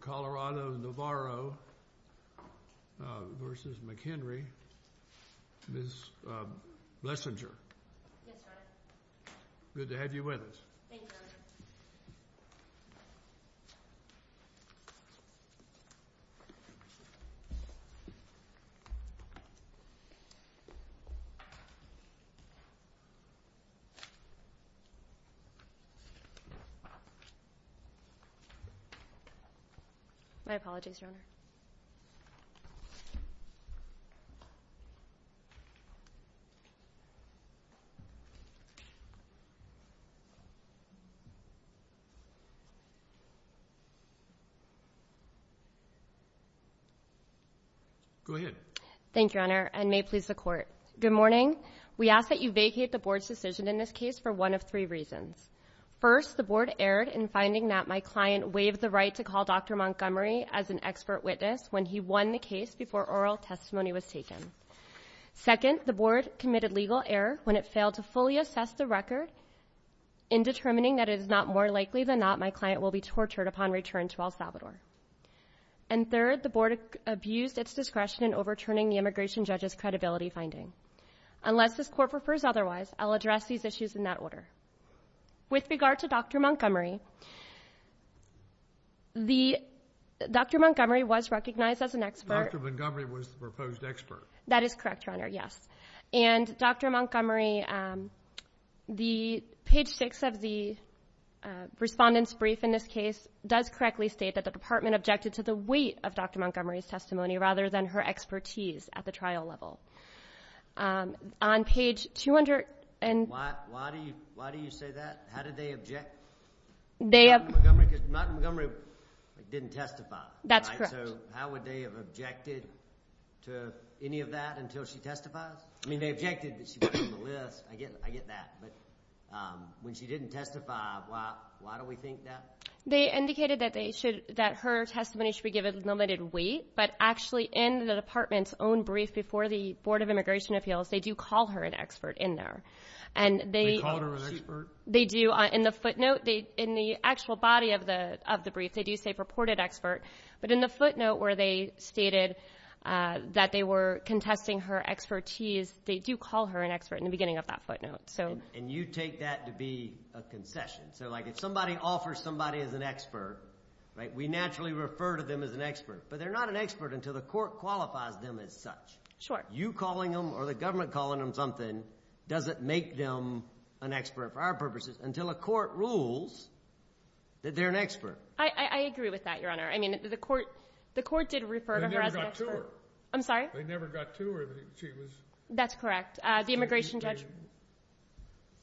Colorado Navarro v. McHenry v. Blessinger Good to have you with us. Thank you, Your Honor. Go ahead. Thank you, Your Honor, and may it please the Court. Good morning. We ask that you vacate the Board's decision in this case for one of three reasons. First, the Board erred in finding that my client waived the right to call Dr. Montgomery as an expert witness when he won the case before oral testimony was taken. Second, the Board committed legal error when it failed to fully assess the record in determining that it is not more likely than not my client will be tortured upon return to El Salvador. And third, the Board abused its discretion in overturning the immigration judge's credibility finding. Unless this Court prefers otherwise, I'll address these issues in that order. With regard to Dr. Montgomery, Dr. Montgomery was recognized as an expert. Dr. Montgomery was the proposed expert. That is correct, Your Honor, yes. And Dr. Montgomery, the page six of the Respondent's Brief in this case does correctly state that the Department objected to the weight of Dr. Montgomery's testimony rather than her expertise at the trial level. On page 200 and... Why do you say that? How did they object? Dr. Montgomery didn't testify. That's correct. So how would they have objected to any of that until she testifies? I mean, they objected, but she wasn't on the list. I get that. But when she didn't testify, why do we think that? They indicated that her testimony should be given with limited weight, but actually in the Department's own brief before the Board of Immigration Appeals, they do call her an expert in there. And they... They called her an expert? They do. In the footnote, in the actual body of the brief, they do say purported expert, but in the footnote where they stated that they were contesting her expertise, they do call her an expert in the beginning of that footnote. And you take that to be a concession? So like if somebody offers somebody as an expert, right, we naturally refer to them as an expert. But they're not an expert until the court qualifies them as such. Sure. You calling them or the government calling them something doesn't make them an expert for our purposes until a court rules that they're an expert. I agree with that, Your Honor. I mean, the court did refer to her as an expert. I'm sorry? They never got to her. She was... That's correct. The immigration judge...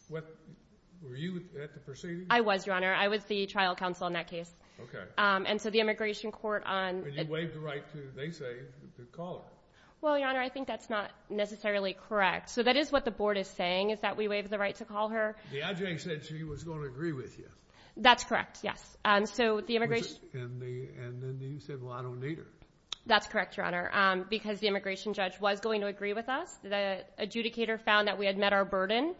Were you at the proceedings? I was, Your Honor. I was the trial counsel in that case. Okay. And so the immigration court on... When you waived the right to, they say, to call her. Well, Your Honor, I think that's not necessarily correct. So that is what the Board is saying, is that we waived the right to call her. The IJ said she was going to agree with you. That's correct, yes. So the immigration... And then you said, well, I don't need her. That's correct, Your Honor, because the immigration judge was going to agree with us. The adjudicator found that we had met our burden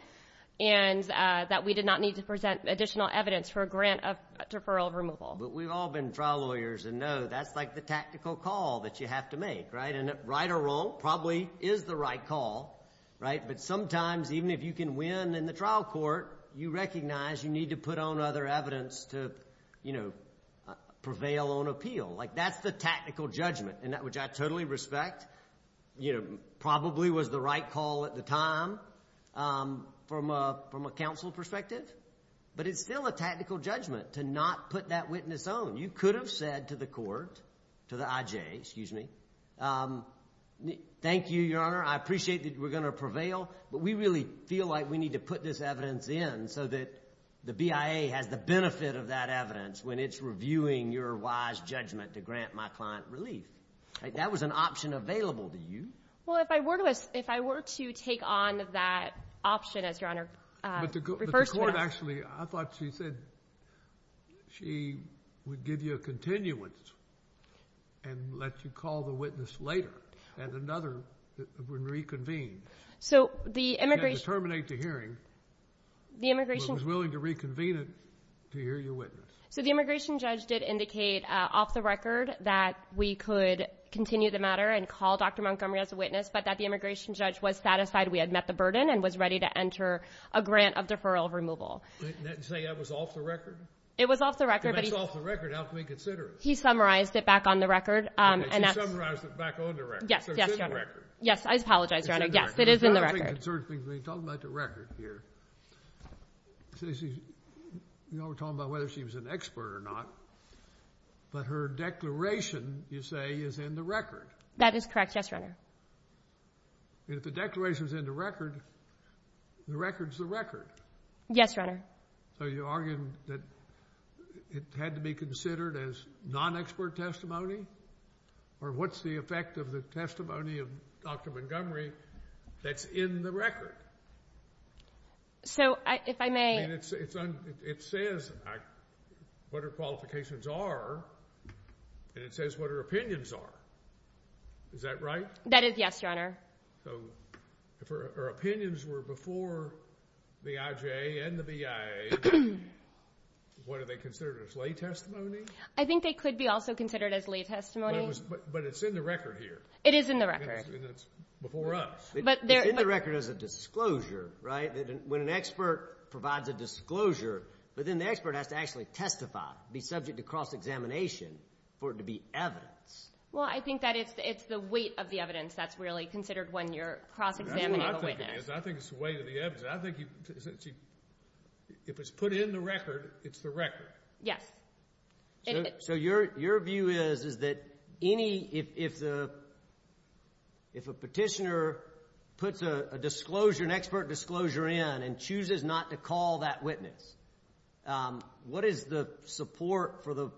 and that we did not need to present additional evidence for a grant of deferral of removal. But we've all been trial lawyers and know that's like the tactical call that you have to make, right? And right or wrong probably is the right call, right? But sometimes, even if you can win in the trial court, you recognize you need to put on other evidence to, you know, prevail on appeal. Like that's the tactical judgment, and that which I totally respect, you know, probably was the right call at the time from a counsel perspective. But it's still a tactical judgment to not put that witness on. You could have said to the court, to the IJ, excuse me, thank you, Your Honor, I appreciate that we're going to prevail, but we really feel like we need to put this evidence in so that the BIA has the benefit of that evidence when it's reviewing your wise judgment to grant my client relief. That was an option available to you. Well, if I were to take on that option, as Your Honor refers to it. But the court actually, I thought she said she would give you a continuance and let you call the witness later, and another would reconvene. So the immigration. And terminate the hearing. The immigration. But was willing to reconvene it to hear your witness. So the immigration judge did indicate off the record that we could continue the matter and call Dr. Montgomery as a witness, but that the immigration judge was satisfied we had met the burden and was ready to enter a grant of deferral removal. Didn't that say that was off the record? It was off the record, but he. If it's off the record, how can we consider it? He summarized it back on the record. He summarized it back on the record, so it's in the record. Yes, I apologize, Your Honor. It's in the record. Yes, it is in the record. I'm getting concerned because when you talk about the record here, you know, we're talking about whether she was an expert or not, but her declaration, you say, is in the record. That is correct. Yes, Your Honor. And if the declaration's in the record, the record's the record. Yes, Your Honor. So you're arguing that it had to be considered as non-expert testimony? Or what's the effect of the testimony of Dr. Montgomery that's in the record? So if I may... I mean, it says what her qualifications are, and it says what her opinions are. Is that right? That is yes, Your Honor. So if her opinions were before the IJA and the BIA, what are they considered as lay testimony? I think they could be also considered as lay testimony. But it's in the record here. It is in the record. And it's before us. But there... It's in the record as a disclosure, right? When an expert provides a disclosure, but then the expert has to actually testify, be subject to cross-examination for it to be evidence. Well, I think that it's the weight of the evidence that's really considered when you're cross-examining a witness. That's what I think it is. I think it's the weight of the evidence. I think if it's put in the record, it's the record. Yes. So your view is, is that any... if a petitioner puts a disclosure, an expert disclosure in and chooses not to call that witness, what is the support for the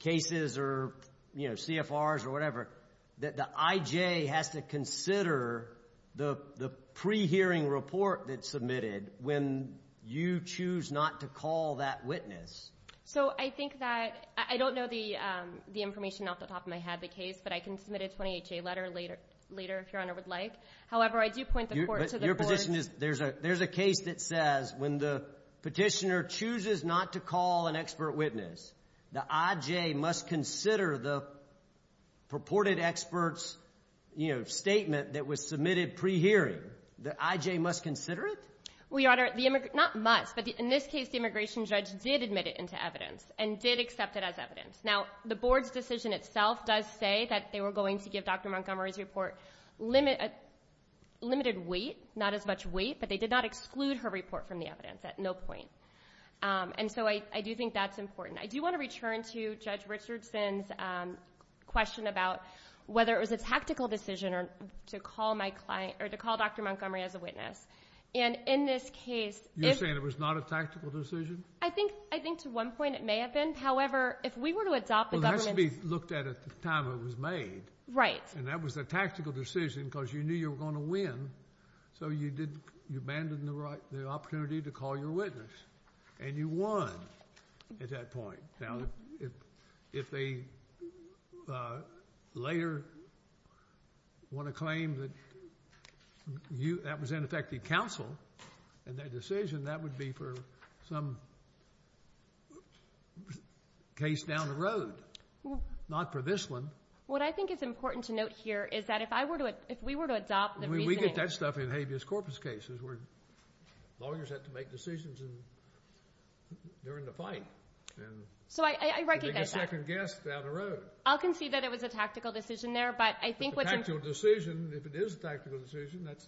cases or CFRs or whatever that the IJA has to consider the pre-hearing report that's submitted when you choose not to call that witness? So I think that... I don't know the information off the top of my head, the case, but I can submit a 28-J letter later if Your Honor would like. However, I do point the court to the courts... But your position is there's a case that says when the petitioner chooses not to call an expert witness, the IJA must consider the purported expert's statement that was submitted pre-hearing. The IJA must consider it? Well, Your Honor, not must, but in this case, the immigration judge did admit it into evidence and did accept it as evidence. Now, the board's decision itself does say that they were going to give Dr. Montgomery's report limited weight, not as much weight, but they did not exclude her report from the evidence at no point. And so I do think that's important. I do want to return to Judge Richardson's question about whether it was a tactical decision or to call my client... or to call Dr. Montgomery as a witness. And in this case... You're saying it was not a tactical decision? I think to one point it may have been. However, if we were to adopt the government's... Well, that should be looked at at the time it was made. Right. And that was a tactical decision because you knew you were going to win, so you abandoned the right... the opportunity to call your witness, and you won at that point. Now, if they later want to claim that you... that was ineffective counsel in that decision, that would be for some case down the road, not for this one. What I think is important to note here is that if I were to... if we were to adopt the reasoning... We get that stuff in habeas corpus cases where lawyers have to make decisions during the night. And... So, I... I recognize that.... and bring a second guest down the road. I'll concede that it was a tactical decision there, but I think what's important... A tactical decision, if it is a tactical decision, that's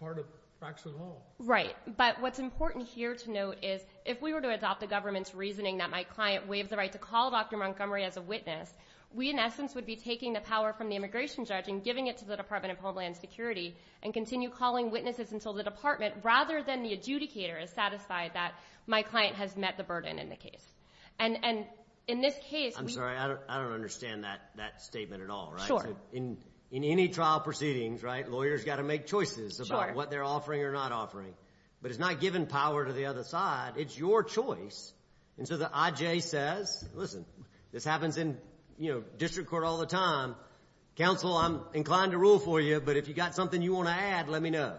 part of facts and law. Right. But what's important here to note is if we were to adopt the government's reasoning that my client waived the right to call Dr. Montgomery as a witness, we in essence would be taking the power from the immigration judge and giving it to the Department of Homeland Security and continue calling witnesses until the department, rather than the adjudicator, is satisfied that my client has met the burden in the case. And in this case... I'm sorry. I don't understand that statement at all, right? Sure. In any trial proceedings, right, lawyers got to make choices about what they're offering or not offering. Sure. But it's not giving power to the other side. It's your choice. And so the I.J. says, listen, this happens in, you know, district court all the time, counsel, I'm inclined to rule for you, but if you've got something you want to add, let me know.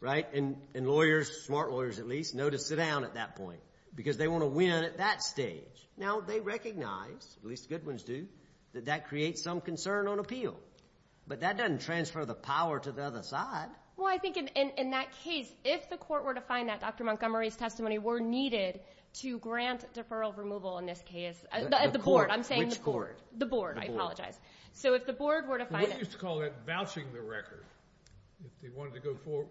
Right? And lawyers, smart lawyers at least, know to sit down at that point because they want to win at that stage. Now they recognize, at least the good ones do, that that creates some concern on appeal. But that doesn't transfer the power to the other side. Well, I think in that case, if the court were to find that Dr. Montgomery's testimony were needed to grant deferral removal in this case, the court, I'm saying the board. The board. I apologize. So if the board were to find it... If they wanted to go forward...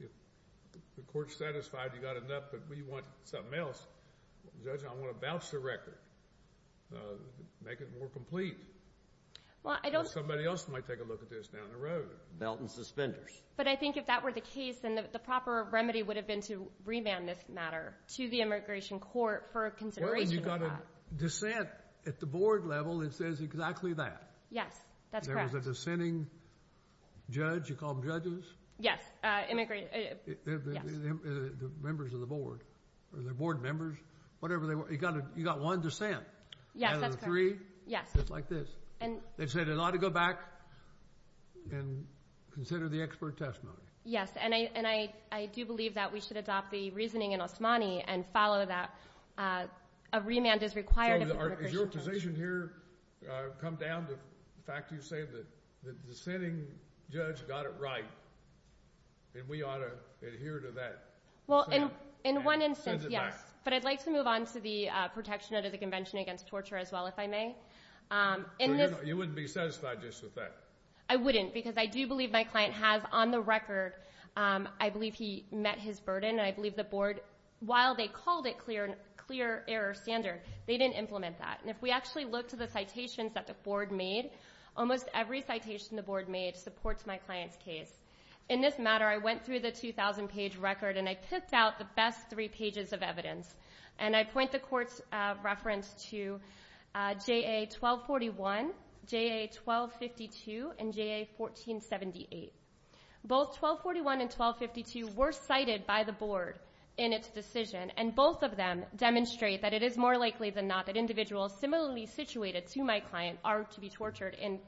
if the court's satisfied you got enough but we want something else, judge, I want to bounce the record, make it more complete, or somebody else might take a look at this down the road. Belt and suspenders. But I think if that were the case, then the proper remedy would have been to remand this matter to the immigration court for consideration of that. Well, you've got a dissent at the board level that says exactly that. Yes. That's correct. You've got a dissenting judge. You call them judges? Yes. Immigrants. Yes. They're members of the board. They're board members. Whatever they want. You've got one dissent. Yes, that's correct. Out of the three? Yes. Just like this. They've said it ought to go back and consider the expert testimony. Yes. And I do believe that we should adopt the reasoning in Osmani and follow that a remand is required of the immigration court. So, is your position here come down to the fact that you say that the dissenting judge got it right and we ought to adhere to that? In one instance, yes. But I'd like to move on to the protection under the Convention Against Torture as well if I may. You wouldn't be satisfied just with that? I wouldn't because I do believe my client has, on the record, I believe he met his burden. I believe the board, while they called it clear error standard, they didn't implement that. And if we actually look to the citations that the board made, almost every citation the board made supports my client's case. In this matter, I went through the 2,000-page record and I picked out the best three pages of evidence. And I point the court's reference to JA 1241, JA 1252, and JA 1478. Both 1241 and 1252 were cited by the board in its decision. And both of them demonstrate that it is more likely than not that individuals similarly situated to my client are to be tortured in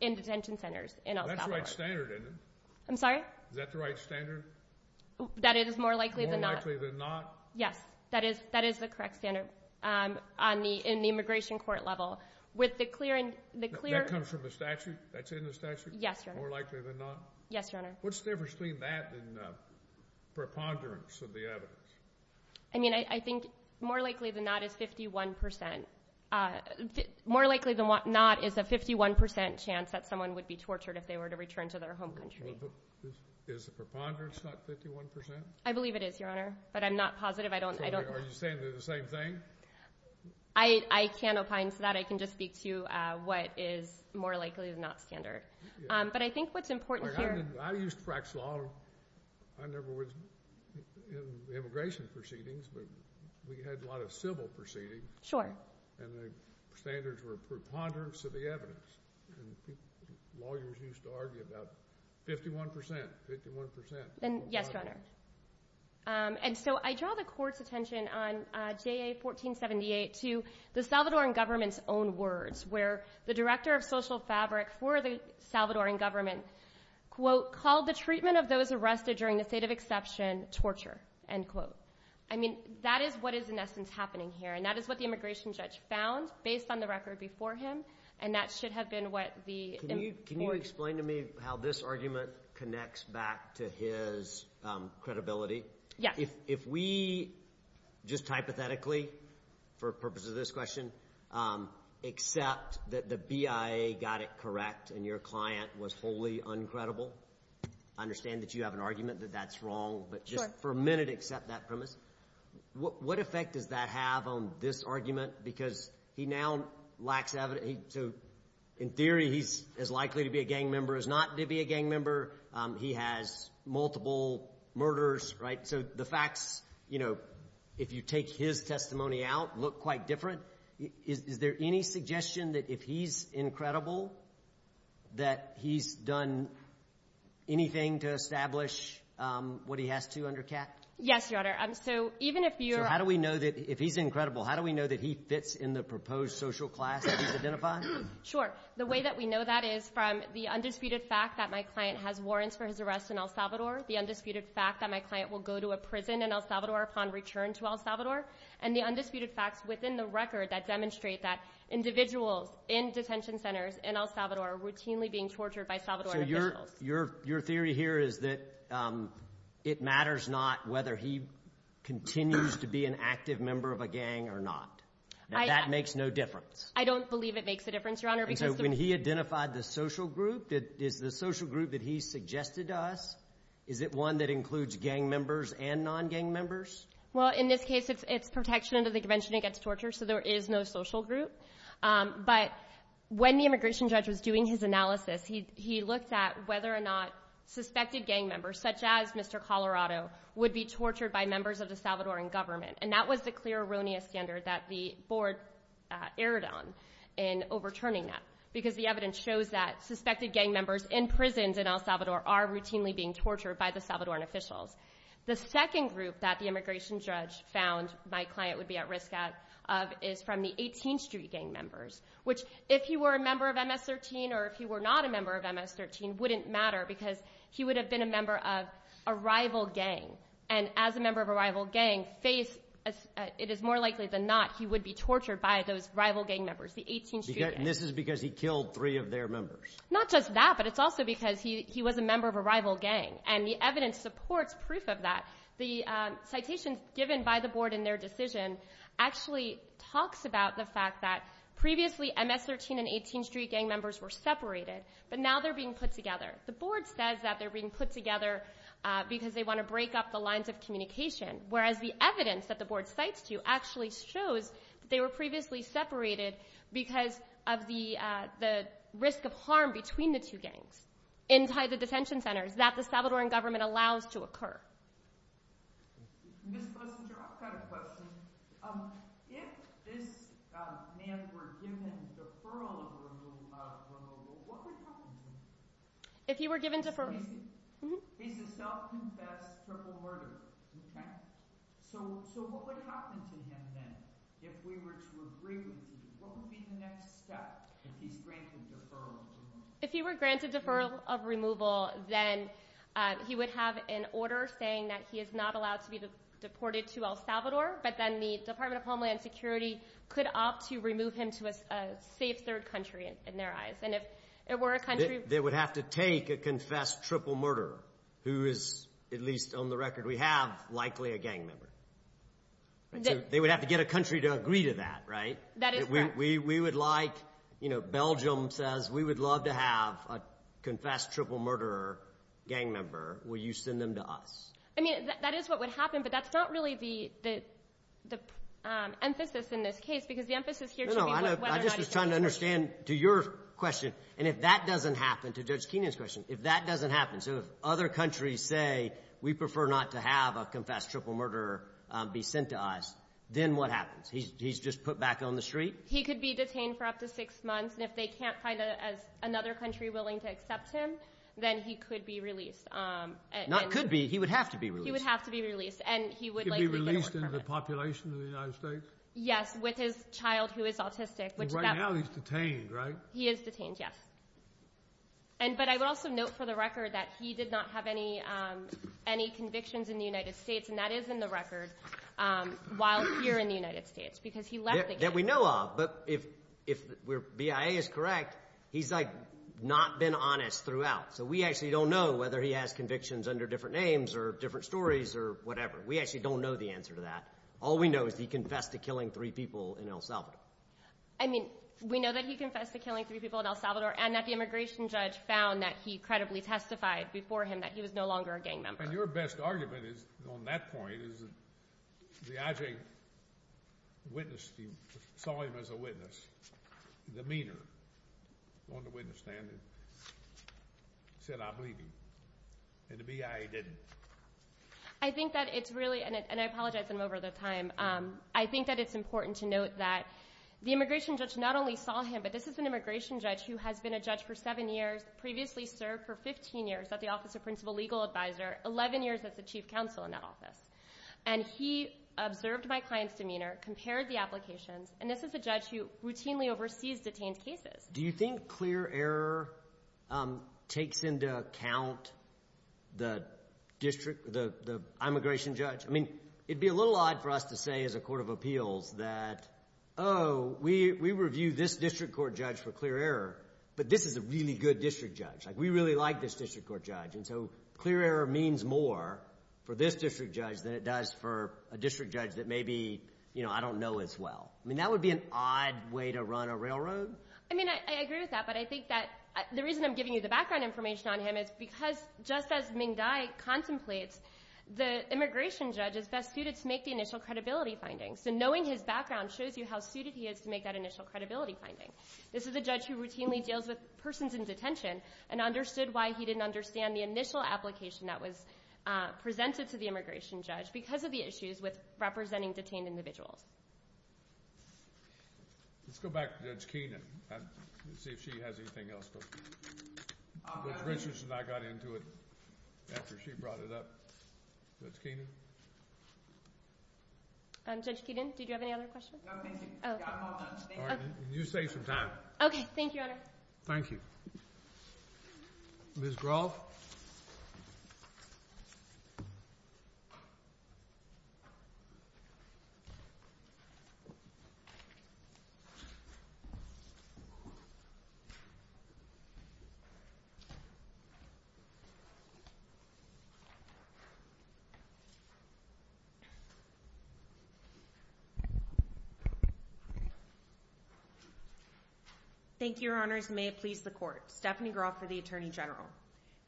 detention centers in El Salvador. That's right standard, isn't it? I'm sorry? Is that the right standard? That it is more likely than not? More likely than not? Yes. That is the correct standard in the immigration court level. With the clear... That comes from the statute? That's in the statute? Yes, Your Honor. More likely than not? Yes, Your Honor. What's the difference between that and preponderance of the evidence? I mean, I think more likely than not is 51%. More likely than not is a 51% chance that someone would be tortured if they were to return to their home country. Is the preponderance not 51%? I believe it is, Your Honor. But I'm not positive. I don't... Are you saying they're the same thing? I can't opine to that. I can just speak to what is more likely than not standard. But I think what's important here... I used Frax Law. I never was in immigration proceedings, but we had a lot of civil proceedings. And the standards were preponderance of the evidence. And lawyers used to argue about 51%. 51%. Yes, Your Honor. And so I draw the court's attention on JA 1478 to the Salvadoran government's own words, where the director of social fabric for the Salvadoran government, quote, called the treatment of those arrested during the state of exception, torture, end quote. I mean, that is what is in essence happening here. And that is what the immigration judge found based on the record before him. And that should have been what the... Can you explain to me how this argument connects back to his credibility? Yes. If we just hypothetically, for purposes of this question, accept that the BIA got it correct and your client was wholly uncredible, I understand that you have an argument that that's wrong. But just for a minute, accept that premise. What effect does that have on this argument? Because he now lacks evidence. So in theory, he's as likely to be a gang member as not to be a gang member. He has multiple murders, right? So the facts, you know, if you take his testimony out, look quite different. Is there any suggestion that if he's incredible, that he's done anything to establish what he has to under cap? Yes, Your Honor. So even if you're... So how do we know that if he's incredible, how do we know that he fits in the proposed social class that he's identified? Sure. The way that we know that is from the undisputed fact that my client has warrants for his arrest in El Salvador, the undisputed fact that my client will go to a prison in El Salvador upon return to El Salvador, and the undisputed facts within the record that demonstrate that individuals in detention centers in El Salvador are routinely being tortured by Salvadoran officials. So your theory here is that it matters not whether he continues to be an active member of a gang or not. That makes no difference. I don't believe it makes a difference, Your Honor. And so when he identified the social group, is the social group that he suggested to us, is it one that includes gang members and non-gang members? Well, in this case, it's protection under the Convention Against Torture, so there is no social group. But when the immigration judge was doing his analysis, he looked at whether or not suspected gang members, such as Mr. Colorado, would be tortured by members of the Salvadoran government. And that was the clear erroneous standard that the board erred on in overturning that, because the evidence shows that suspected gang members in prisons in El Salvador are routinely being tortured by the Salvadoran officials. The second group that the immigration judge found my client would be at risk of is from the 18th Street gang members, which, if he were a member of MS-13 or if he were not a member of MS-13, wouldn't matter, because he would have been a member of a rival gang. And as a member of a rival gang, it is more likely than not he would be tortured by those rival gang members, the 18th Street gang. And this is because he killed three of their members? Not just that, but it's also because he was a member of a rival gang, and the evidence supports proof of that. The citations given by the board in their decision actually talks about the fact that previously MS-13 and 18th Street gang members were separated, but now they're being put together. The board says that they're being put together because they want to break up the lines of communication, whereas the evidence that the board cites to you actually shows that they were previously separated because of the, uh, the risk of harm between the two gangs inside the detention centers that the Salvadoran government allows to occur. Ms. Blessinger, I've got a question. Um, if this, uh, man were given deferral of removal, what would happen to him? If he were given deferral? He's a self-confessed triple murderer, okay? So, so what would happen to him then if we were to agree with you? What would be the next step if he's granted deferral of removal? If he were granted deferral of removal, then, uh, he would have an order saying that he is not allowed to be deported to El Salvador, but then the Department of Homeland Security could opt to remove him to a safe third country in their eyes. And if it were a country... They would have to take a confessed triple murderer, who is, at least on the record we have, likely a gang member. They would have to get a country to agree to that, right? That is correct. We would like, you know, Belgium says, we would love to have a confessed triple murderer gang member. Will you send them to us? I mean, that is what would happen, but that's not really the, the, um, emphasis in this case, because the emphasis here should be whether or not... No, no, I just was trying to understand, to your question, and if that doesn't happen, to Judge Kenyon's question, if that doesn't happen, so if other countries say, we prefer not to have a confessed triple murderer be sent to us, then what happens? He's, he's just put back on the street? He could be detained for up to six months, and if they can't find another country willing to accept him, then he could be released. Not could be, he would have to be released. He would have to be released, and he would likely... Could be released into the population of the United States? Yes, with his child who is autistic, which that... Right now he's detained, right? He is detained, yes. And, but I would also note for the record that he did not have any, um, any convictions in the United States, and that is in the record, um, while here in the United States, because he left the... That we know of, but if, if BIA is correct, he's, like, not been honest throughout, so we actually don't know whether he has convictions under different names or different stories or whatever. We actually don't know the answer to that. All we know is he confessed to killing three people in El Salvador. I mean, we know that he confessed to killing three people in El Salvador and that the immigration judge found that he credibly testified before him that he was no longer a gang member. And your best argument is, on that point, is that the I.J. witness, he saw him as a witness, the meaner, on the witness stand, said, I believe him. And the BIA didn't. I think that it's really, and I apologize, I'm over the time, I think that it's important to note that the immigration judge not only saw him, but this is an immigration judge who has been a judge for seven years, previously served for 15 years at the Office of Principal Legal Advisor, 11 years as the chief counsel in that office. And he observed my client's demeanor, compared the applications, and this is a judge who routinely oversees detained cases. Do you think clear error takes into account the district, the immigration judge? I mean, it'd be a little odd for us to say as a court of appeals that, oh, we review this district court judge for clear error, but this is a really good district judge. Like, we really like this district court judge. And so clear error means more for this district judge than it does for a district judge that maybe, you know, I don't know as well. I mean, that would be an odd way to run a railroad. I mean, I agree with that, but I think that the reason I'm giving you the background information on him is because just as Ming Dai contemplates, the immigration judge is best suited to make the initial credibility findings. So knowing his background shows you how suited he is to make that initial credibility finding. This is a judge who routinely deals with persons in detention and understood why he didn't understand the initial application that was presented to the immigration judge because of the issues with representing detained individuals. Let's go back to Judge Keenan and see if she has anything else. Judge Richards and I got into it after she brought it up. Judge Keenan? Judge Keenan, did you have any other questions? No, thank you. I'm all done. You save some time. Okay. Thank you, Your Honor. Thank you. Ms. Groff? Thank you. Thank you, Your Honors. May it please the Court. Stephanie Groff for the Attorney General.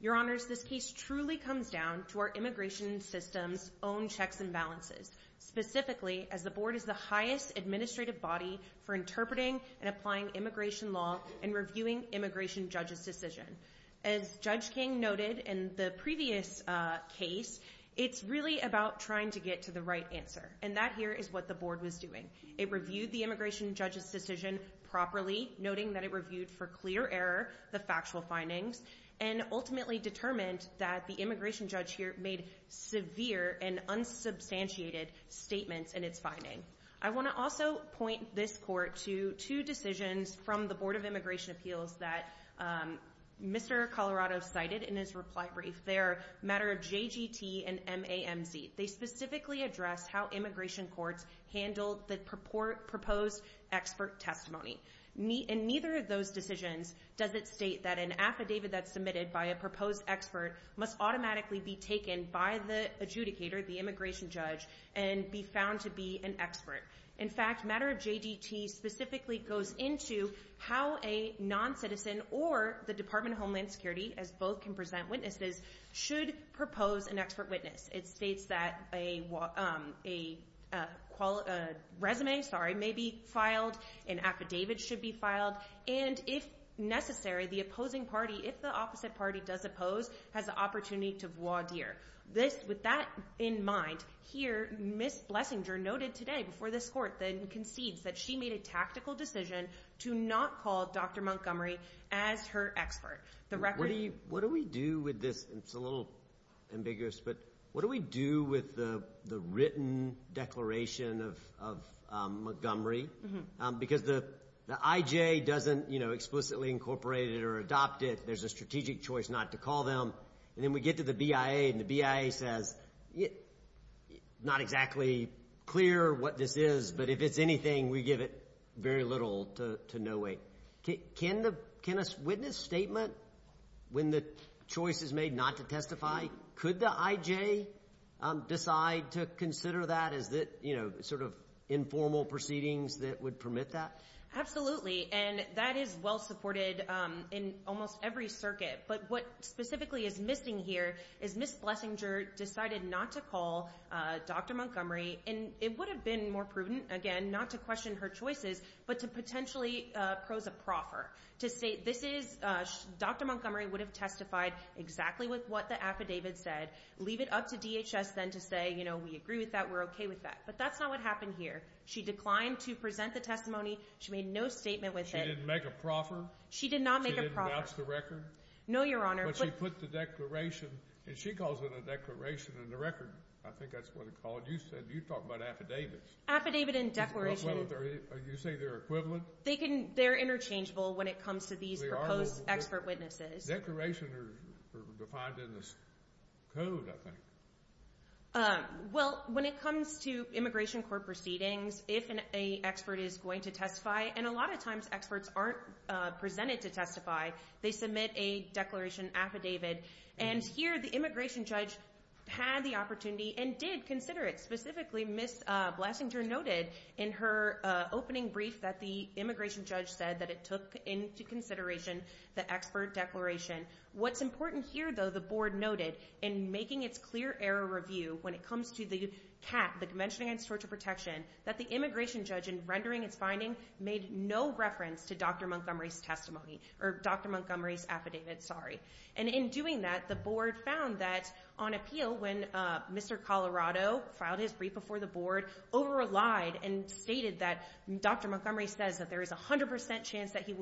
Your Honors, this case truly comes down to our immigration system's own checks and balances, specifically as the Board is the highest administrative body for interpreting and applying immigration law and reviewing immigration judges' decision. As Judge King noted in the previous case, it's really about trying to get to the right answer, and that here is what the Board was doing. It reviewed the immigration judge's decision properly, noting that it reviewed for clear error the factual findings and ultimately determined that the immigration judge here made severe and unsubstantiated statements in its finding. I want to also point this Court to two decisions from the Board of Immigration Appeals that Mr. Colorado cited in his reply brief there, Matter of JGT and MAMZ. They specifically address how immigration courts handle the proposed expert testimony. In neither of those decisions does it state that an affidavit that's submitted by a proposed expert must automatically be taken by the adjudicator, the immigration judge, and be found to be an expert. In fact, Matter of JGT specifically goes into how a non-citizen or the Department of Homeland Security, as both can present witnesses, should propose an expert witness. It states that a resume may be filed, an affidavit should be filed, and if necessary, the opposing party, if the opposite party does oppose, has the opportunity to voir dire. With that in mind, here is what Ms. Blessinger noted today before this court then concedes that she made a tactical decision to not call Dr. Montgomery as her expert. The record... What do we do with this? It's a little ambiguous, but what do we do with the written declaration of Montgomery? Because the IJ doesn't, you know, explicitly incorporate it or adopt it. There's a strategic choice not to call them, and then we get to the BIA, and the BIA says, not exactly clear what this is, but if it's anything, we give it very little to no way. Can a witness statement, when the choice is made not to testify, could the IJ decide to consider that as the, you know, sort of informal proceedings that would permit that? Absolutely, and that is well supported in almost every circuit, but what specifically is missing here is Ms. Blessinger decided not to call Dr. Montgomery, and it would have been more prudent, again, not to question her choices, but to potentially prose a proffer, to say this is Dr. Montgomery would have testified exactly with what the affidavit said, leave it up to DHS then to say, you know, we agree with that, we're okay with that, but that's not what happened here. She declined to present the testimony. She made no statement with it. She didn't make a proffer? She did not make a proffer. She didn't vouch the record? No, Your Honor. But she put the declaration, and she calls it a declaration and the record, I think that's what it called. You said, you talked about affidavits. Affidavit and declaration. You say they're equivalent? They can, they're interchangeable when it comes to these proposed expert witnesses. Declarations are defined in this code, I think. Well, when it comes to immigration court proceedings, if an expert is going to testify, and a lot of times experts aren't presented to testify, they submit a declaration affidavit, and here the immigration judge had the opportunity and did consider it. Specifically, Ms. Blasinger noted in her opening brief that the immigration judge said that it took into consideration the expert declaration. What's important here, though, the board noted in making its clear error review when it comes to the CAT, the Convention Against Torture Protection, that the immigration judge, in rendering its finding, made no reference to Dr. Montgomery's testimony, or Dr. Montgomery's affidavit, sorry. And in doing that, the board found that on appeal, when Mr. Colorado filed his brief before the board, over-relied and stated that Dr. Montgomery says that there is a 100% chance that he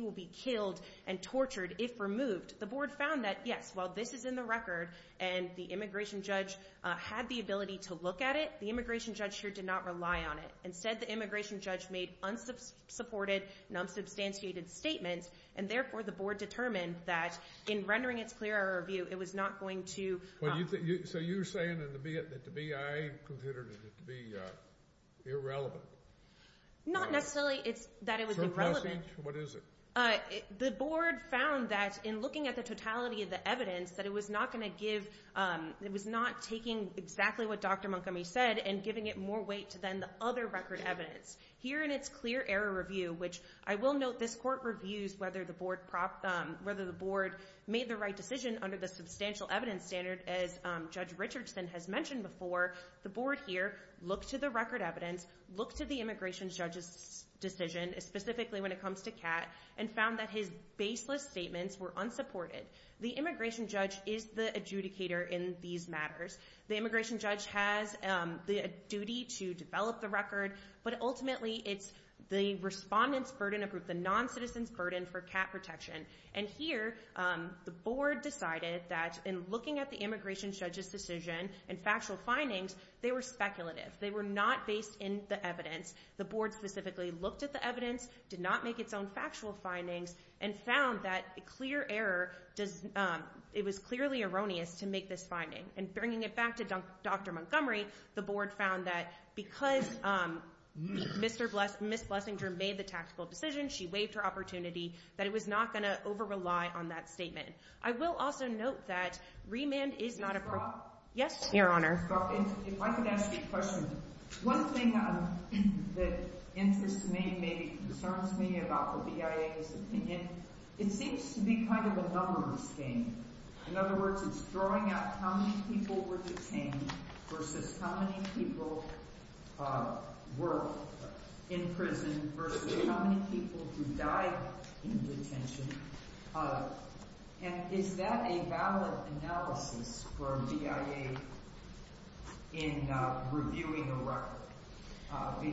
will be killed and tortured if removed. The board found that, yes, while this is in the record, and the immigration judge had the ability to look at it, the immigration judge here did not rely on it. Instead, the immigration judge made unsupported, non-substantiated statements, and therefore the board determined that, in rendering its clear error review, it was not going to... So you're saying that the BIA considered it to be irrelevant? Not necessarily that it was irrelevant. What is it? The board found that, in looking at the totality of the evidence, that it was not going to give, it was not taking exactly what Dr. Montgomery said and giving it more weight to then the other record evidence. Here in its clear error review, which I will note this court reviews whether the board made the right decision under the substantial evidence standard, as Judge Richardson has mentioned before, the board here looked to the record evidence, looked to the immigration judge's decision, specifically when it comes to Kat, and found that his baseless statements were unsupported. The immigration judge is the adjudicator in these matters. The immigration judge has the duty to develop the record, but ultimately it's the respondent's burden of the non-citizen's burden for Kat protection. And here, the board decided that, in looking at the immigration judge's decision and factual findings, they were speculative. They were not based in the evidence. The board specifically looked at the evidence, did not make its own factual findings, and found that the clear error was clearly erroneous to make this finding. And bringing it back to Dr. Montgomery, the board found that because Ms. Blessinger made the tactical decision, she waived her opportunity, that it was not going to over-rely on that statement. I will also note that remand is not a... Yes, Your Honor. If I could ask you a question. One thing that interests me, maybe concerns me about the BIA is that it seems to be kind of a numbers game. In other words, it's throwing out how many people were detained versus how many people were in prison versus how many people who died in detention. And is that a valid analysis for BIA in reviewing a record?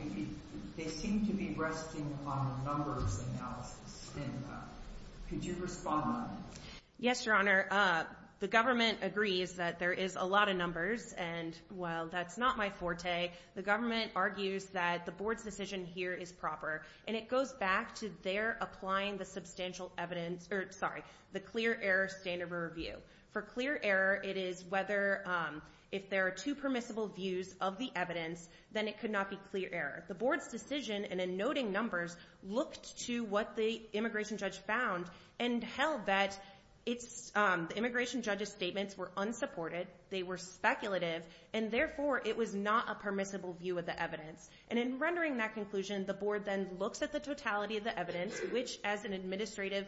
They seem to be resting on numbers analysis. Could you respond? Yes, Your Honor. The government agrees that there is a lot of numbers, and while that's not my forte, the government argues that the board's decision here is proper. And it goes back to their applying the substantial evidence or, sorry, the clear error standard of review. For clear error, it is whether if there are two permissible views of the evidence, then it could not be clear error. The board's decision, and in noting numbers, looked to what the immigration judge found, and held that the immigration judge's statements were unsupported, they were speculative, and therefore it was not a permissible view of the evidence. And in rendering that conclusion, the board then looks at the totality of the evidence, which, as an administrative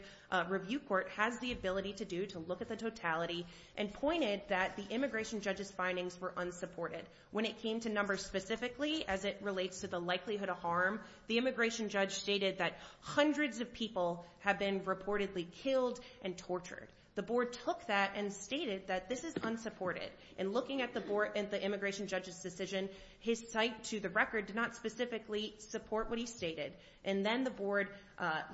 review court, has the ability to do to look at the totality, and pointed that the immigration judge's findings were unsupported. When it came to numbers specifically, as it relates to the likelihood of harm, the immigration judge stated that hundreds of people have been reportedly killed and tortured. The board took that and stated that this is unsupported. And looking at the immigration judge's decision, his cite to the record did not specifically support what he stated. And then the board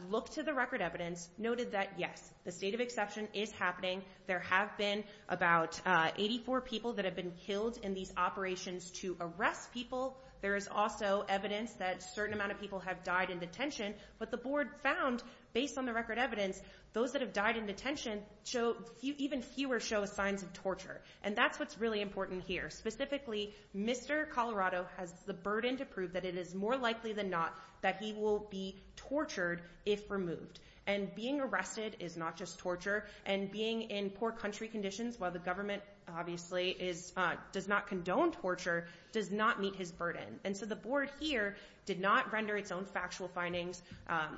looked to the record evidence, noted that, yes, the state of exception is happening, there have been about 84 people that have been killed in these operations to arrest people. There is also evidence that a certain amount of people have died in detention, but the board found, based on the record evidence, those that have died in detention, even fewer show signs of torture. And that's what's really important here. Specifically, Mr. Colorado has the burden to prove that it is more likely than not that he will be tortured if removed. And being arrested is not just torture, and being in poor country conditions, while the government obviously does not meet his burden. And so the board here did not render its own factual findings.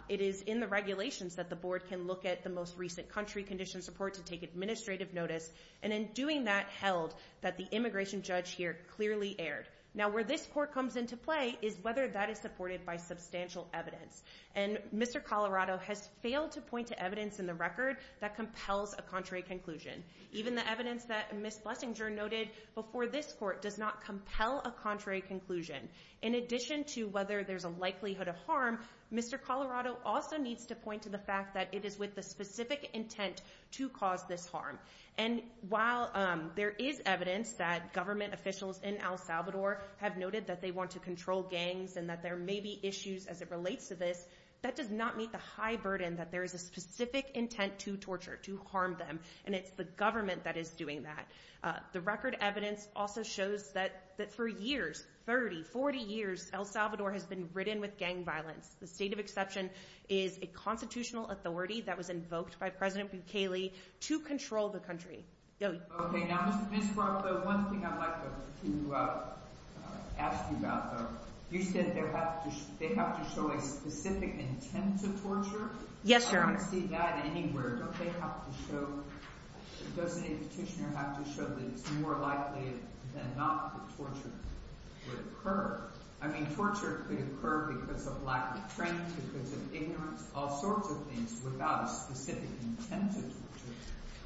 It is in the regulations that the board can look at the most recent country conditions report to take administrative notice. And in doing that, held that the immigration judge here clearly erred. Now, where this court comes into play is whether that is supported by substantial evidence. And Mr. Colorado has failed to point to evidence in the record that compels a contrary conclusion. Even the evidence that Ms. Blessinger noted before this court does not compel a contrary conclusion. In addition to whether there's a likelihood of harm, Mr. Colorado also needs to point to the fact that it is with the specific intent to cause this harm. And while there is evidence that government officials in El Salvador have noted that they want to control gangs and that there may be issues as it relates to this, that does not meet the high burden that there is a specific intent to torture, to harm them. And it's the government that is doing that. The record evidence also shows that for years, 30, 40 years, El Salvador has been ridden with gang violence. The state of exception is a constitutional authority that was invoked by President Bukele to control the country. Okay, now, Ms. Brock, one thing I'd like to ask you about, you said they have to show a specific intent to torture? Yes, Your Honor. I don't see that anywhere. Don't they have to show or does any petitioner have to show that it's more likely than not that torture would occur? I mean, torture could occur because of lack of strength, because of ignorance, all sorts of things, without a specific intent to torture.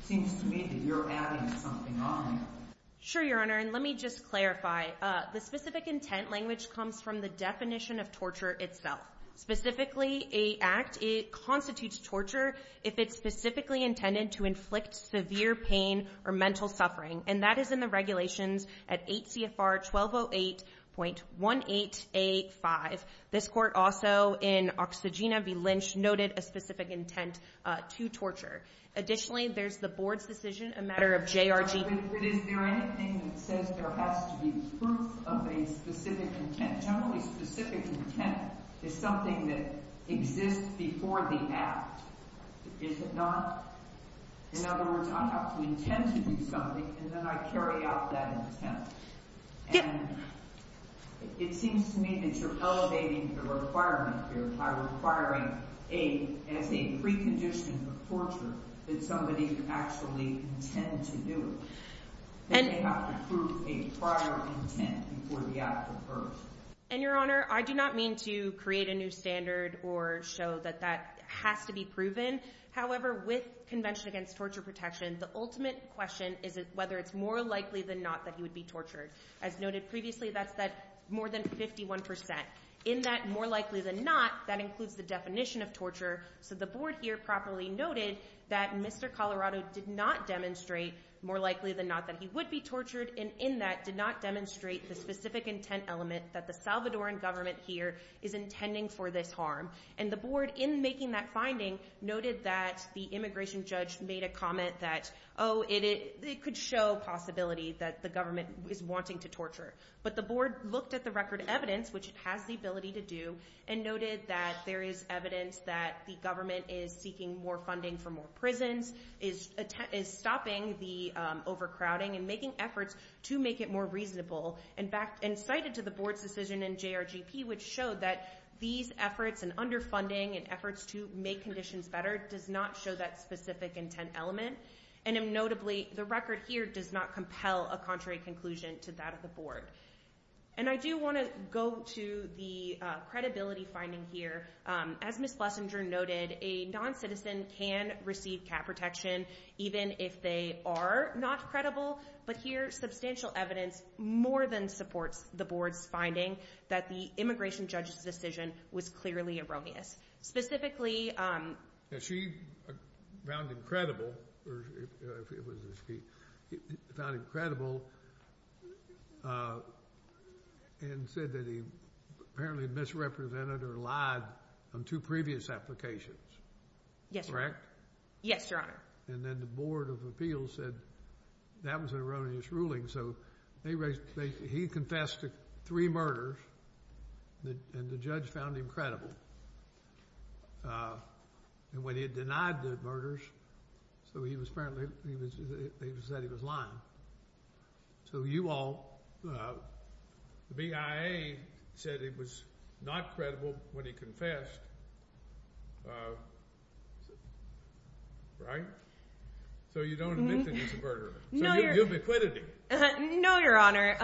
Seems to me that you're adding something on there. Sure, Your Honor, and let me just clarify. The specific intent language comes from the definition of torture itself. Specifically, a act, it constitutes torture if it's specifically intended to inflict severe pain or mental suffering, and that is in the regulations at 8 CFR 1208.1885. This court also, in Oxygena v. Lynch, noted a specific intent to torture. Additionally, there's the board's decision a matter of J.R.G. Is there anything that says there has to be proof of a specific intent? Generally, specific intent is something that exists before the act. Is it not? In other words, I have to intend to do something and then I carry out that intent. And it seems to me that you're elevating the requirement here by requiring a precondition for torture that somebody could actually intend to do it. They have to prove a prior intent before the act occurs. And, Your Honor, I do not mean to create a new standard or show that that has to be proven. However, with Convention Against Torture Protection, the ultimate question is whether it's more likely than not that he would be tortured. As noted previously, that's more than 51%. In that more likely than not, that includes the definition of torture, so the board here properly noted that Mr. Colorado did not demonstrate more likely than not that he would be tortured, and in that, did not demonstrate the specific intent element that the Salvadoran government here is intending for this harm. And the board in making that finding noted that the immigration judge made a comment that, oh, it could show possibility that the government is wanting to torture. But the board looked at the record evidence, which it has the ability to do, and noted that there is evidence that the government is seeking more funding for more prisons, is stopping the overcrowding, and making efforts to make it more reasonable. In fact, and cited to the board's decision in JRGP, which showed that these efforts and underfunding and efforts to make conditions better does not show that specific intent element. And notably, the record here does not compel a contrary conclusion to that of the board. And I do want to go to the credibility finding here. As Ms. Flesinger noted, a non-citizen can receive cat protection, even if they are not credible. But here, substantial evidence more than supports the board's finding that the immigration judge's decision was clearly erroneous. Specifically... She found incredible found incredible and said that he apparently misrepresented or lied on two previous applications. Correct? Yes, Your Honor. And then the Board of Appeals said that was an erroneous ruling, so he confessed to three murders and the judge found him And when he denied the murders, so he was apparently he said he was lying. So you all the BIA said it was not credible when he confessed. Right? So you don't admit that he's a murderer. No, Your Honor.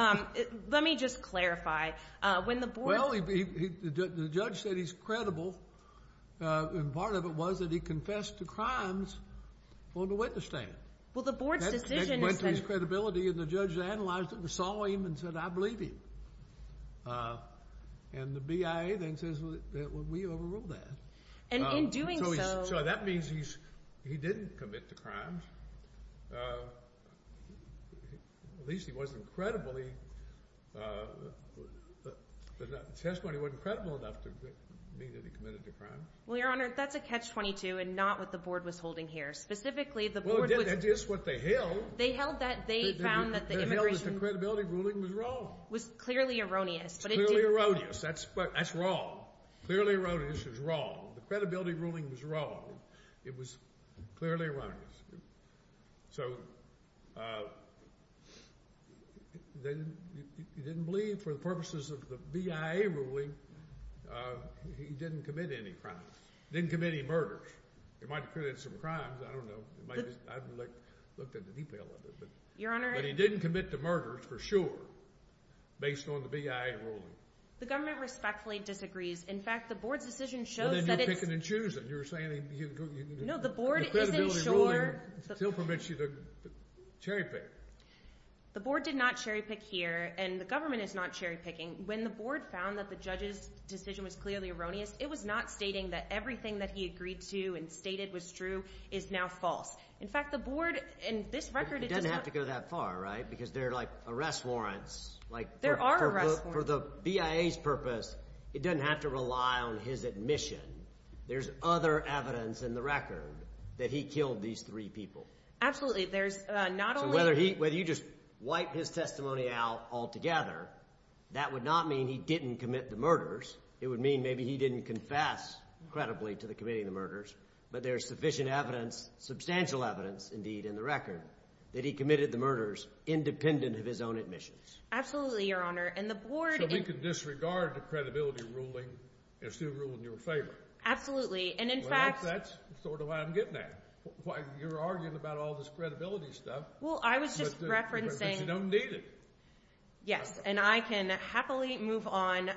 Let me just clarify. Well, the judge said he's credible and part of it was that he confessed to crimes on the witness stand. Well, the board's decision is that... That went to his credibility and the judge analyzed it and saw him and said, I believe him. And the BIA then says, well, we overruled that. And in doing so... So that means he didn't commit the crimes. At least he wasn't credible. The testimony wasn't credible enough to mean that he committed the crimes. Well, Your Honor, that's a catch-22 and not what the board was holding here. Specifically, the board... Well, it is what they held. They held that the credibility ruling was wrong. It was clearly erroneous. That's wrong. Clearly erroneous is wrong. The credibility ruling was wrong. It was clearly erroneous. So... He didn't believe for the purposes of the BIA ruling he didn't commit any crimes. He didn't commit any murders. He might have committed some crimes. I don't know. I haven't looked at the detail of it. But he didn't commit the murders for sure based on the BIA ruling. The government respectfully disagrees. In fact, the board's decision shows that it's... Well, then you're picking and choosing. You're saying... No, the board isn't sure... The credibility ruling still permits you to cherry-pick. The board did not cherry-pick here, and the government is not cherry-picking. When the board found that the judge's decision was clearly erroneous, it was not stating that everything that he agreed to and stated was true is now false. In fact, the board and this record... It doesn't have to go that far, right? Because there are, like, arrest warrants. There are arrest warrants. For the BIA's purpose, it doesn't have to rely on his admission. There's other evidence in the record that he killed these three people. Absolutely. There's not only... So whether you just wipe his testimony out altogether, that would not mean he didn't commit the murders. It would mean maybe he didn't confess credibly to committing the murders. But there's sufficient evidence, substantial evidence indeed, in the record, that he committed the murders independent of his own admissions. Absolutely, Your Honor. And the board... So we can disregard the credibility ruling and still rule in your favor. Absolutely. And in fact... Well, that's sort of why I'm getting at it. You're arguing about all this credibility stuff. Well, I was just referencing... But you don't need it. Yes. And I can happily move on.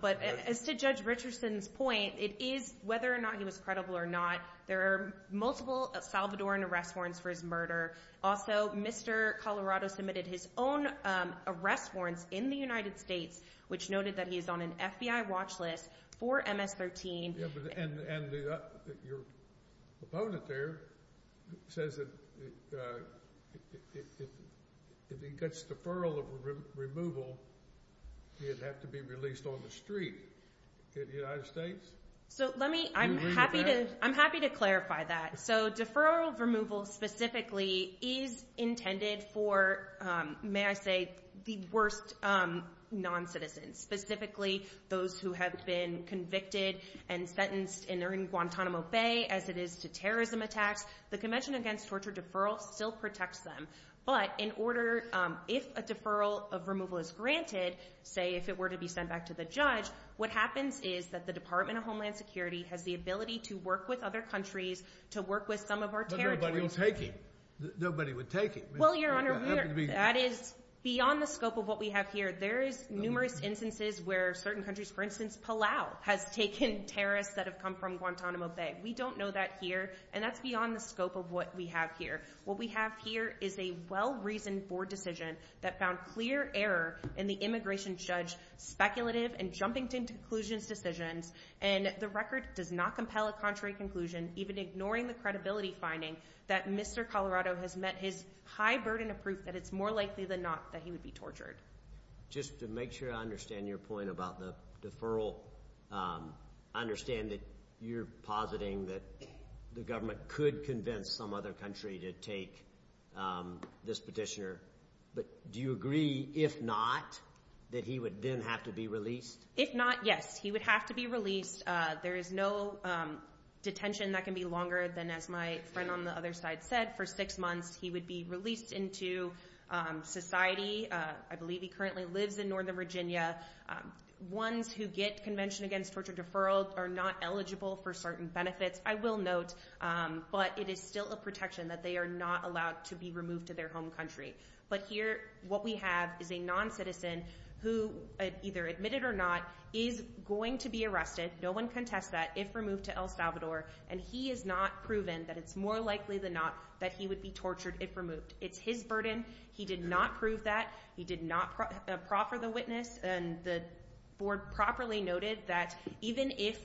But as to Judge Richardson's point, it is whether or not he was credible or not. There are multiple Salvadoran arrest warrants for his murder. Also, Mr. Colorado submitted his own arrest warrants in the United States, which noted that he is on an FBI watch list for MS-13. And your opponent there says that if he gets deferral of removal, he'd have to be released on the street. Could the United States... So let me... I'm happy to clarify that. So deferral of removal specifically is intended for, may I say, the worst non-citizens, specifically those who have been convicted and sentenced in Guantanamo Bay, as it is to terrorism attacks. The Convention Against Torture deferral still protects them. But in order... If a deferral of removal is granted, say if it were to be sent back to the judge, what happens is that the Department of Homeland Security has the ability to work with other countries, to work with some of our territories... But nobody will take it. Nobody would take it. Well, Your Honor, that is beyond the scope of what we have here. There is numerous instances where certain countries, for instance, Palau has taken terrorists that have come from Guantanamo Bay. We don't know that here, and that's beyond the scope of what we have here. What we have here is a well-reasoned board decision that found clear error in the immigration judge's speculative and jumping to conclusions decisions, and the record does not compel a contrary conclusion, even ignoring the credibility finding that Mr. Colorado has met his high burden of proof that it's more likely than not that he would be tortured. Just to make sure I understand your point about the deferral, I understand that you're positing that the government could convince some other country to take this petitioner, but do you agree, if not, that he would then have to be released? If not, yes. He would have to be released. There is no detention that can be longer than, as my friend on the other side said, for six months he would be released into society. I believe he currently lives in Northern Virginia. Ones who get Convention Against Torture deferral are not eligible for certain benefits, I will note, but it is still a protection that they are not allowed to be removed to their home country. But here, what we have is a non-citizen who, either admitted or not, is going to be arrested, no one can test that, if removed to El Salvador, and he is not proven that it's more likely than not that he would be tortured if removed. It's his burden, he did not prove that, he did not proffer the witness, and the board properly noted that even if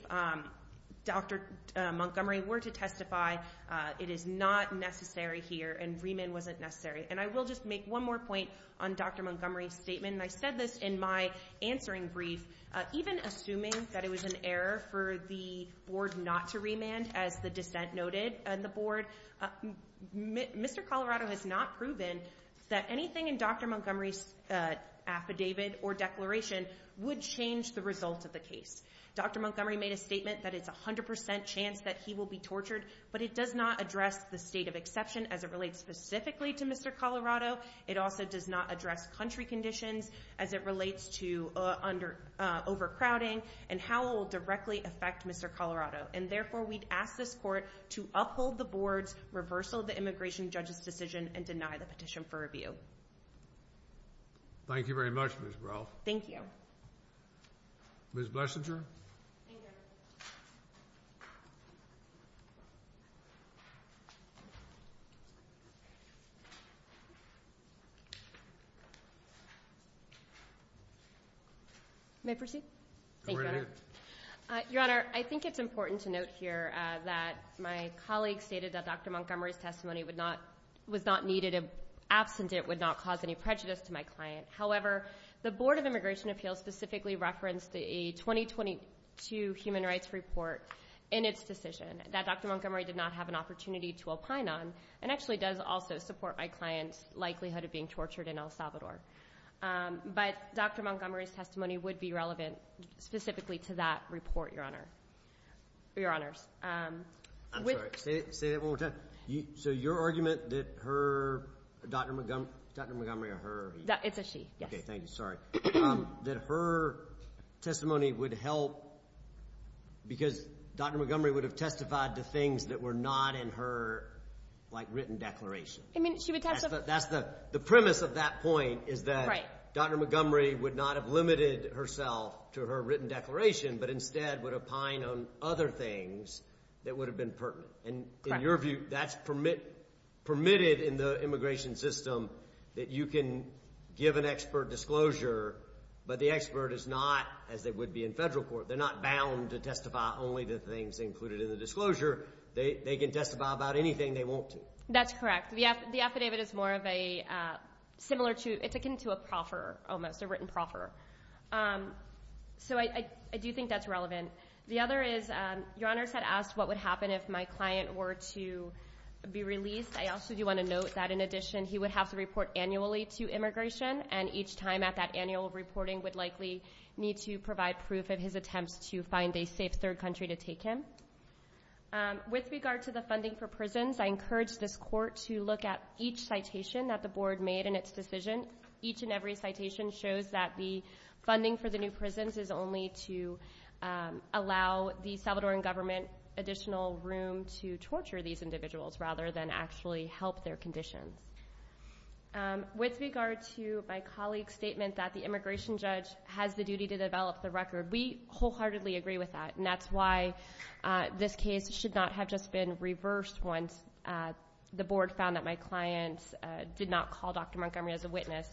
Dr. Montgomery were to testify, it is not necessary here, and remand wasn't necessary. And I will just make one more point on Dr. Montgomery's statement, and I said this in my answering brief, even assuming that it was an error for the board not to remand, as the dissent noted, and the board, Mr. Colorado has not proven that anything in Dr. Montgomery's affidavit or declaration would change the result of the case. Dr. Montgomery made a statement that it's 100% chance that he will be tortured, but it does not address the state of exception as it relates specifically to Mr. Colorado, it also does not address country conditions as it relates to overcrowding, and how it will directly affect Mr. Colorado, and therefore we'd ask this court to uphold the board's reversal of the immigration judge's decision and deny the petition for review. Thank you very much, Ms. Ralph. Thank you. Ms. Blesinger. Thank you. May I proceed? Go right ahead. Your Honor, I think it's important to note here that my colleague stated that Dr. Montgomery's testimony was not needed, absent it would not cause any prejudice to my client. However, the Board of Immigration Appeals specifically referenced the 2022 Human Rights Report in its decision, that Dr. Montgomery did not have an opportunity to opine on, and actually does also support my client's likelihood of being tortured in El Salvador. But Dr. Montgomery's testimony would be relevant specifically to that report, Your Honor. I'm sorry, say that one more time. So your argument that her, Dr. Montgomery, that her testimony would help because Dr. Montgomery would have testified to things that were not in her written declaration. I mean, she would testify. The premise of that point is that Dr. Montgomery would not have limited herself to her written declaration, but instead would opine on other things that would have been pertinent. And in your view, that's permitted in the immigration system that you can give an expert disclosure, but the expert is not, as they would be in federal court, they're not bound to testify only to things included in the disclosure. They can testify about anything they want to. That's correct. The affidavit is more of a similar to, it's akin to a proffer, almost, a written proffer. So I do think that's relevant. The other is, Your Honors had asked what would happen if my client were to be released. I also do want to note that in addition, he would have to report annually to immigration and each time at that annual reporting would likely need to provide proof of his attempts to find a safe third country to take him. With regard to the funding for prisons, I encourage this court to look at each citation that the board made in its decision. Each and every citation shows that the funding for the new prisons is only to allow the Salvadoran government additional room to torture these individuals rather than actually help their conditions. With regard to my colleague's statement that the immigration judge has the duty to develop the record, we wholeheartedly agree with that and that's why this case should not have just been reversed once the board found that my client did not call Dr. Montgomery as a witness.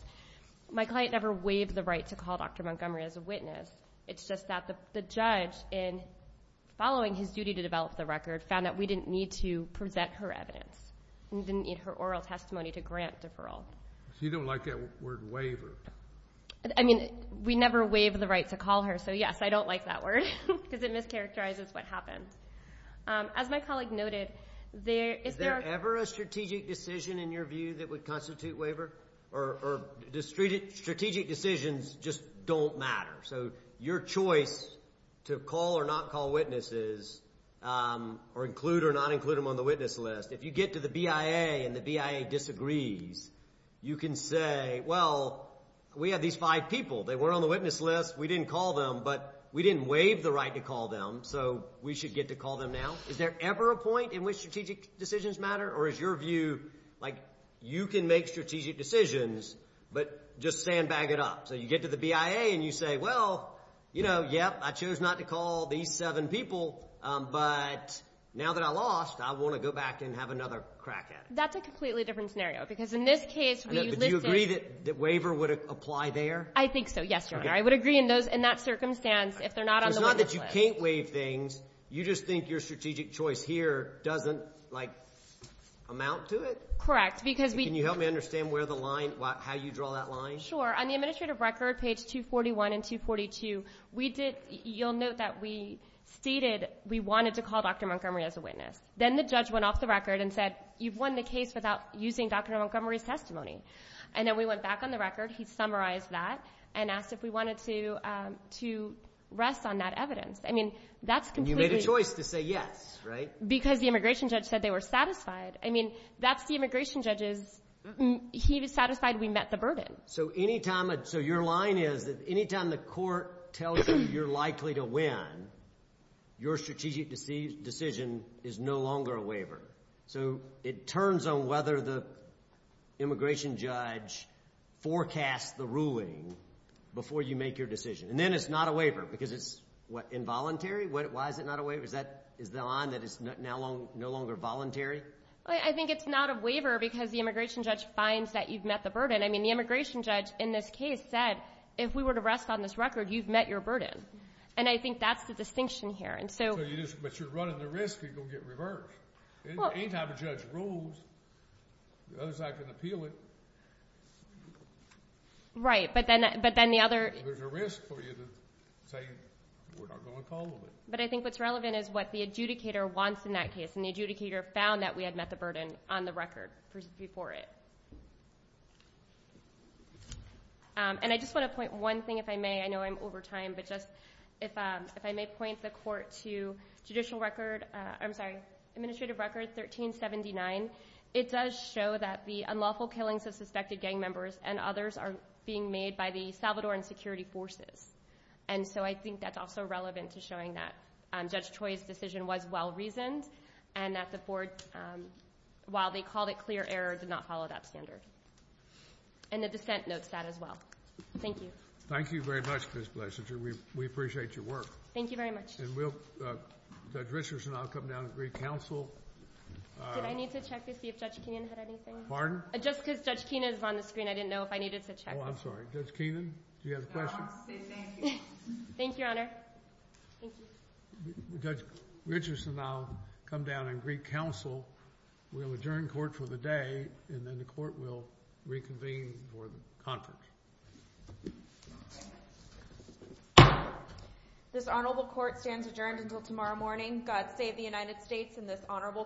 My client never waived the right to call Dr. Montgomery as a witness. It's just that the judge in following his duty to develop the record found that we didn't need to present her evidence. We didn't need her oral testimony to grant deferral. You don't like that word waiver. I mean, we never waived the right to call her, so yes, I don't like that word because it mischaracterizes what happened. As my colleague noted, Is there ever a strategic decision in your view that would constitute waiver? Or strategic decisions just don't matter. So your choice to call or not call witnesses or include or not include them on the witness list, if you get to the BIA and the BIA disagrees, you can say well, we have these five people. They were on the witness list. We didn't call them, but we didn't waive the right to call them, so we should get to call them now. Is there ever a point in which strategic decisions matter? Or is your view like you can make strategic decisions, but just sandbag it up? So you get to the BIA and you say, well, you know, yep, I chose not to call these seven people, but now that I lost, I want to go back and have another crack at it. That's a completely different scenario because in this case, we listed... Would you agree that the waiver would apply there? I think so, yes, Your Honor. I would agree in that circumstance if they're not on the witness list. So it's not that you can't waive things, you just think your strategic choice here doesn't amount to it? Correct, because we... Can you help me understand where the line, how you draw that line? Sure. On the administrative record, page 241 and 242, you'll note that we stated we wanted to call Dr. Montgomery as a witness. Then the judge went off the record and said you've won the case without using Dr. Montgomery's testimony. Then we went back on the record, he summarized that and asked if we wanted to rest on that evidence. I mean, that's completely... You made a choice to say yes, right? Because the immigration judge said they were satisfied. I mean, that's the immigration judge's... He was satisfied we met the burden. So your line is that any time the court tells you you're likely to win, your strategic decision is no longer a waiver. So it turns on whether the immigration judge forecasts the ruling before you make your decision. And then it's not a waiver because it's involuntary? Why is it not a waiver? Is the line that it's no longer voluntary? I think it's not a waiver because the immigration judge finds that you've met the burden. I mean, the immigration judge in this case said if we were to rest on this record, you've met your burden. And I think that's the distinction here. And so... And the risk is going to get reversed. Any time a judge rules, the other side can appeal it. Right. But then the other... There's a risk for you to say we're not going to follow it. But I think what's relevant is what the adjudicator wants in that case. And the adjudicator found that we had met the burden on the record before it. And I just want to point one thing, if I may. I know I'm over time, but just if I may point the court to Judicial Record... I'm sorry. Administrative Record 1379. It does show that the unlawful killings of suspected gang members and others are being made by the Salvadoran security forces. And so I think that's also relevant to showing that Judge Choi's decision was well reasoned and that the board, while they called it clear error, did not follow that standard. And the dissent notes that as well. Thank you. Thank you very much, Ms. Blesinger. We appreciate your work. Thank you very much. Judge Richardson, I'll come down and greet counsel. Did I need to check to see if Judge Keenan had anything? Pardon? Just because Judge Keenan is on the screen, I didn't know if I needed to check. Oh, I'm sorry. Judge Keenan, do you have a question? I wanted to say thank you. Thank you, Your Honor. Judge Richardson, I'll come down and greet counsel. We'll adjourn court for the day and then the court will reconvene for the conference. This honorable court stands adjourned until tomorrow morning. God save the United States and this honorable court.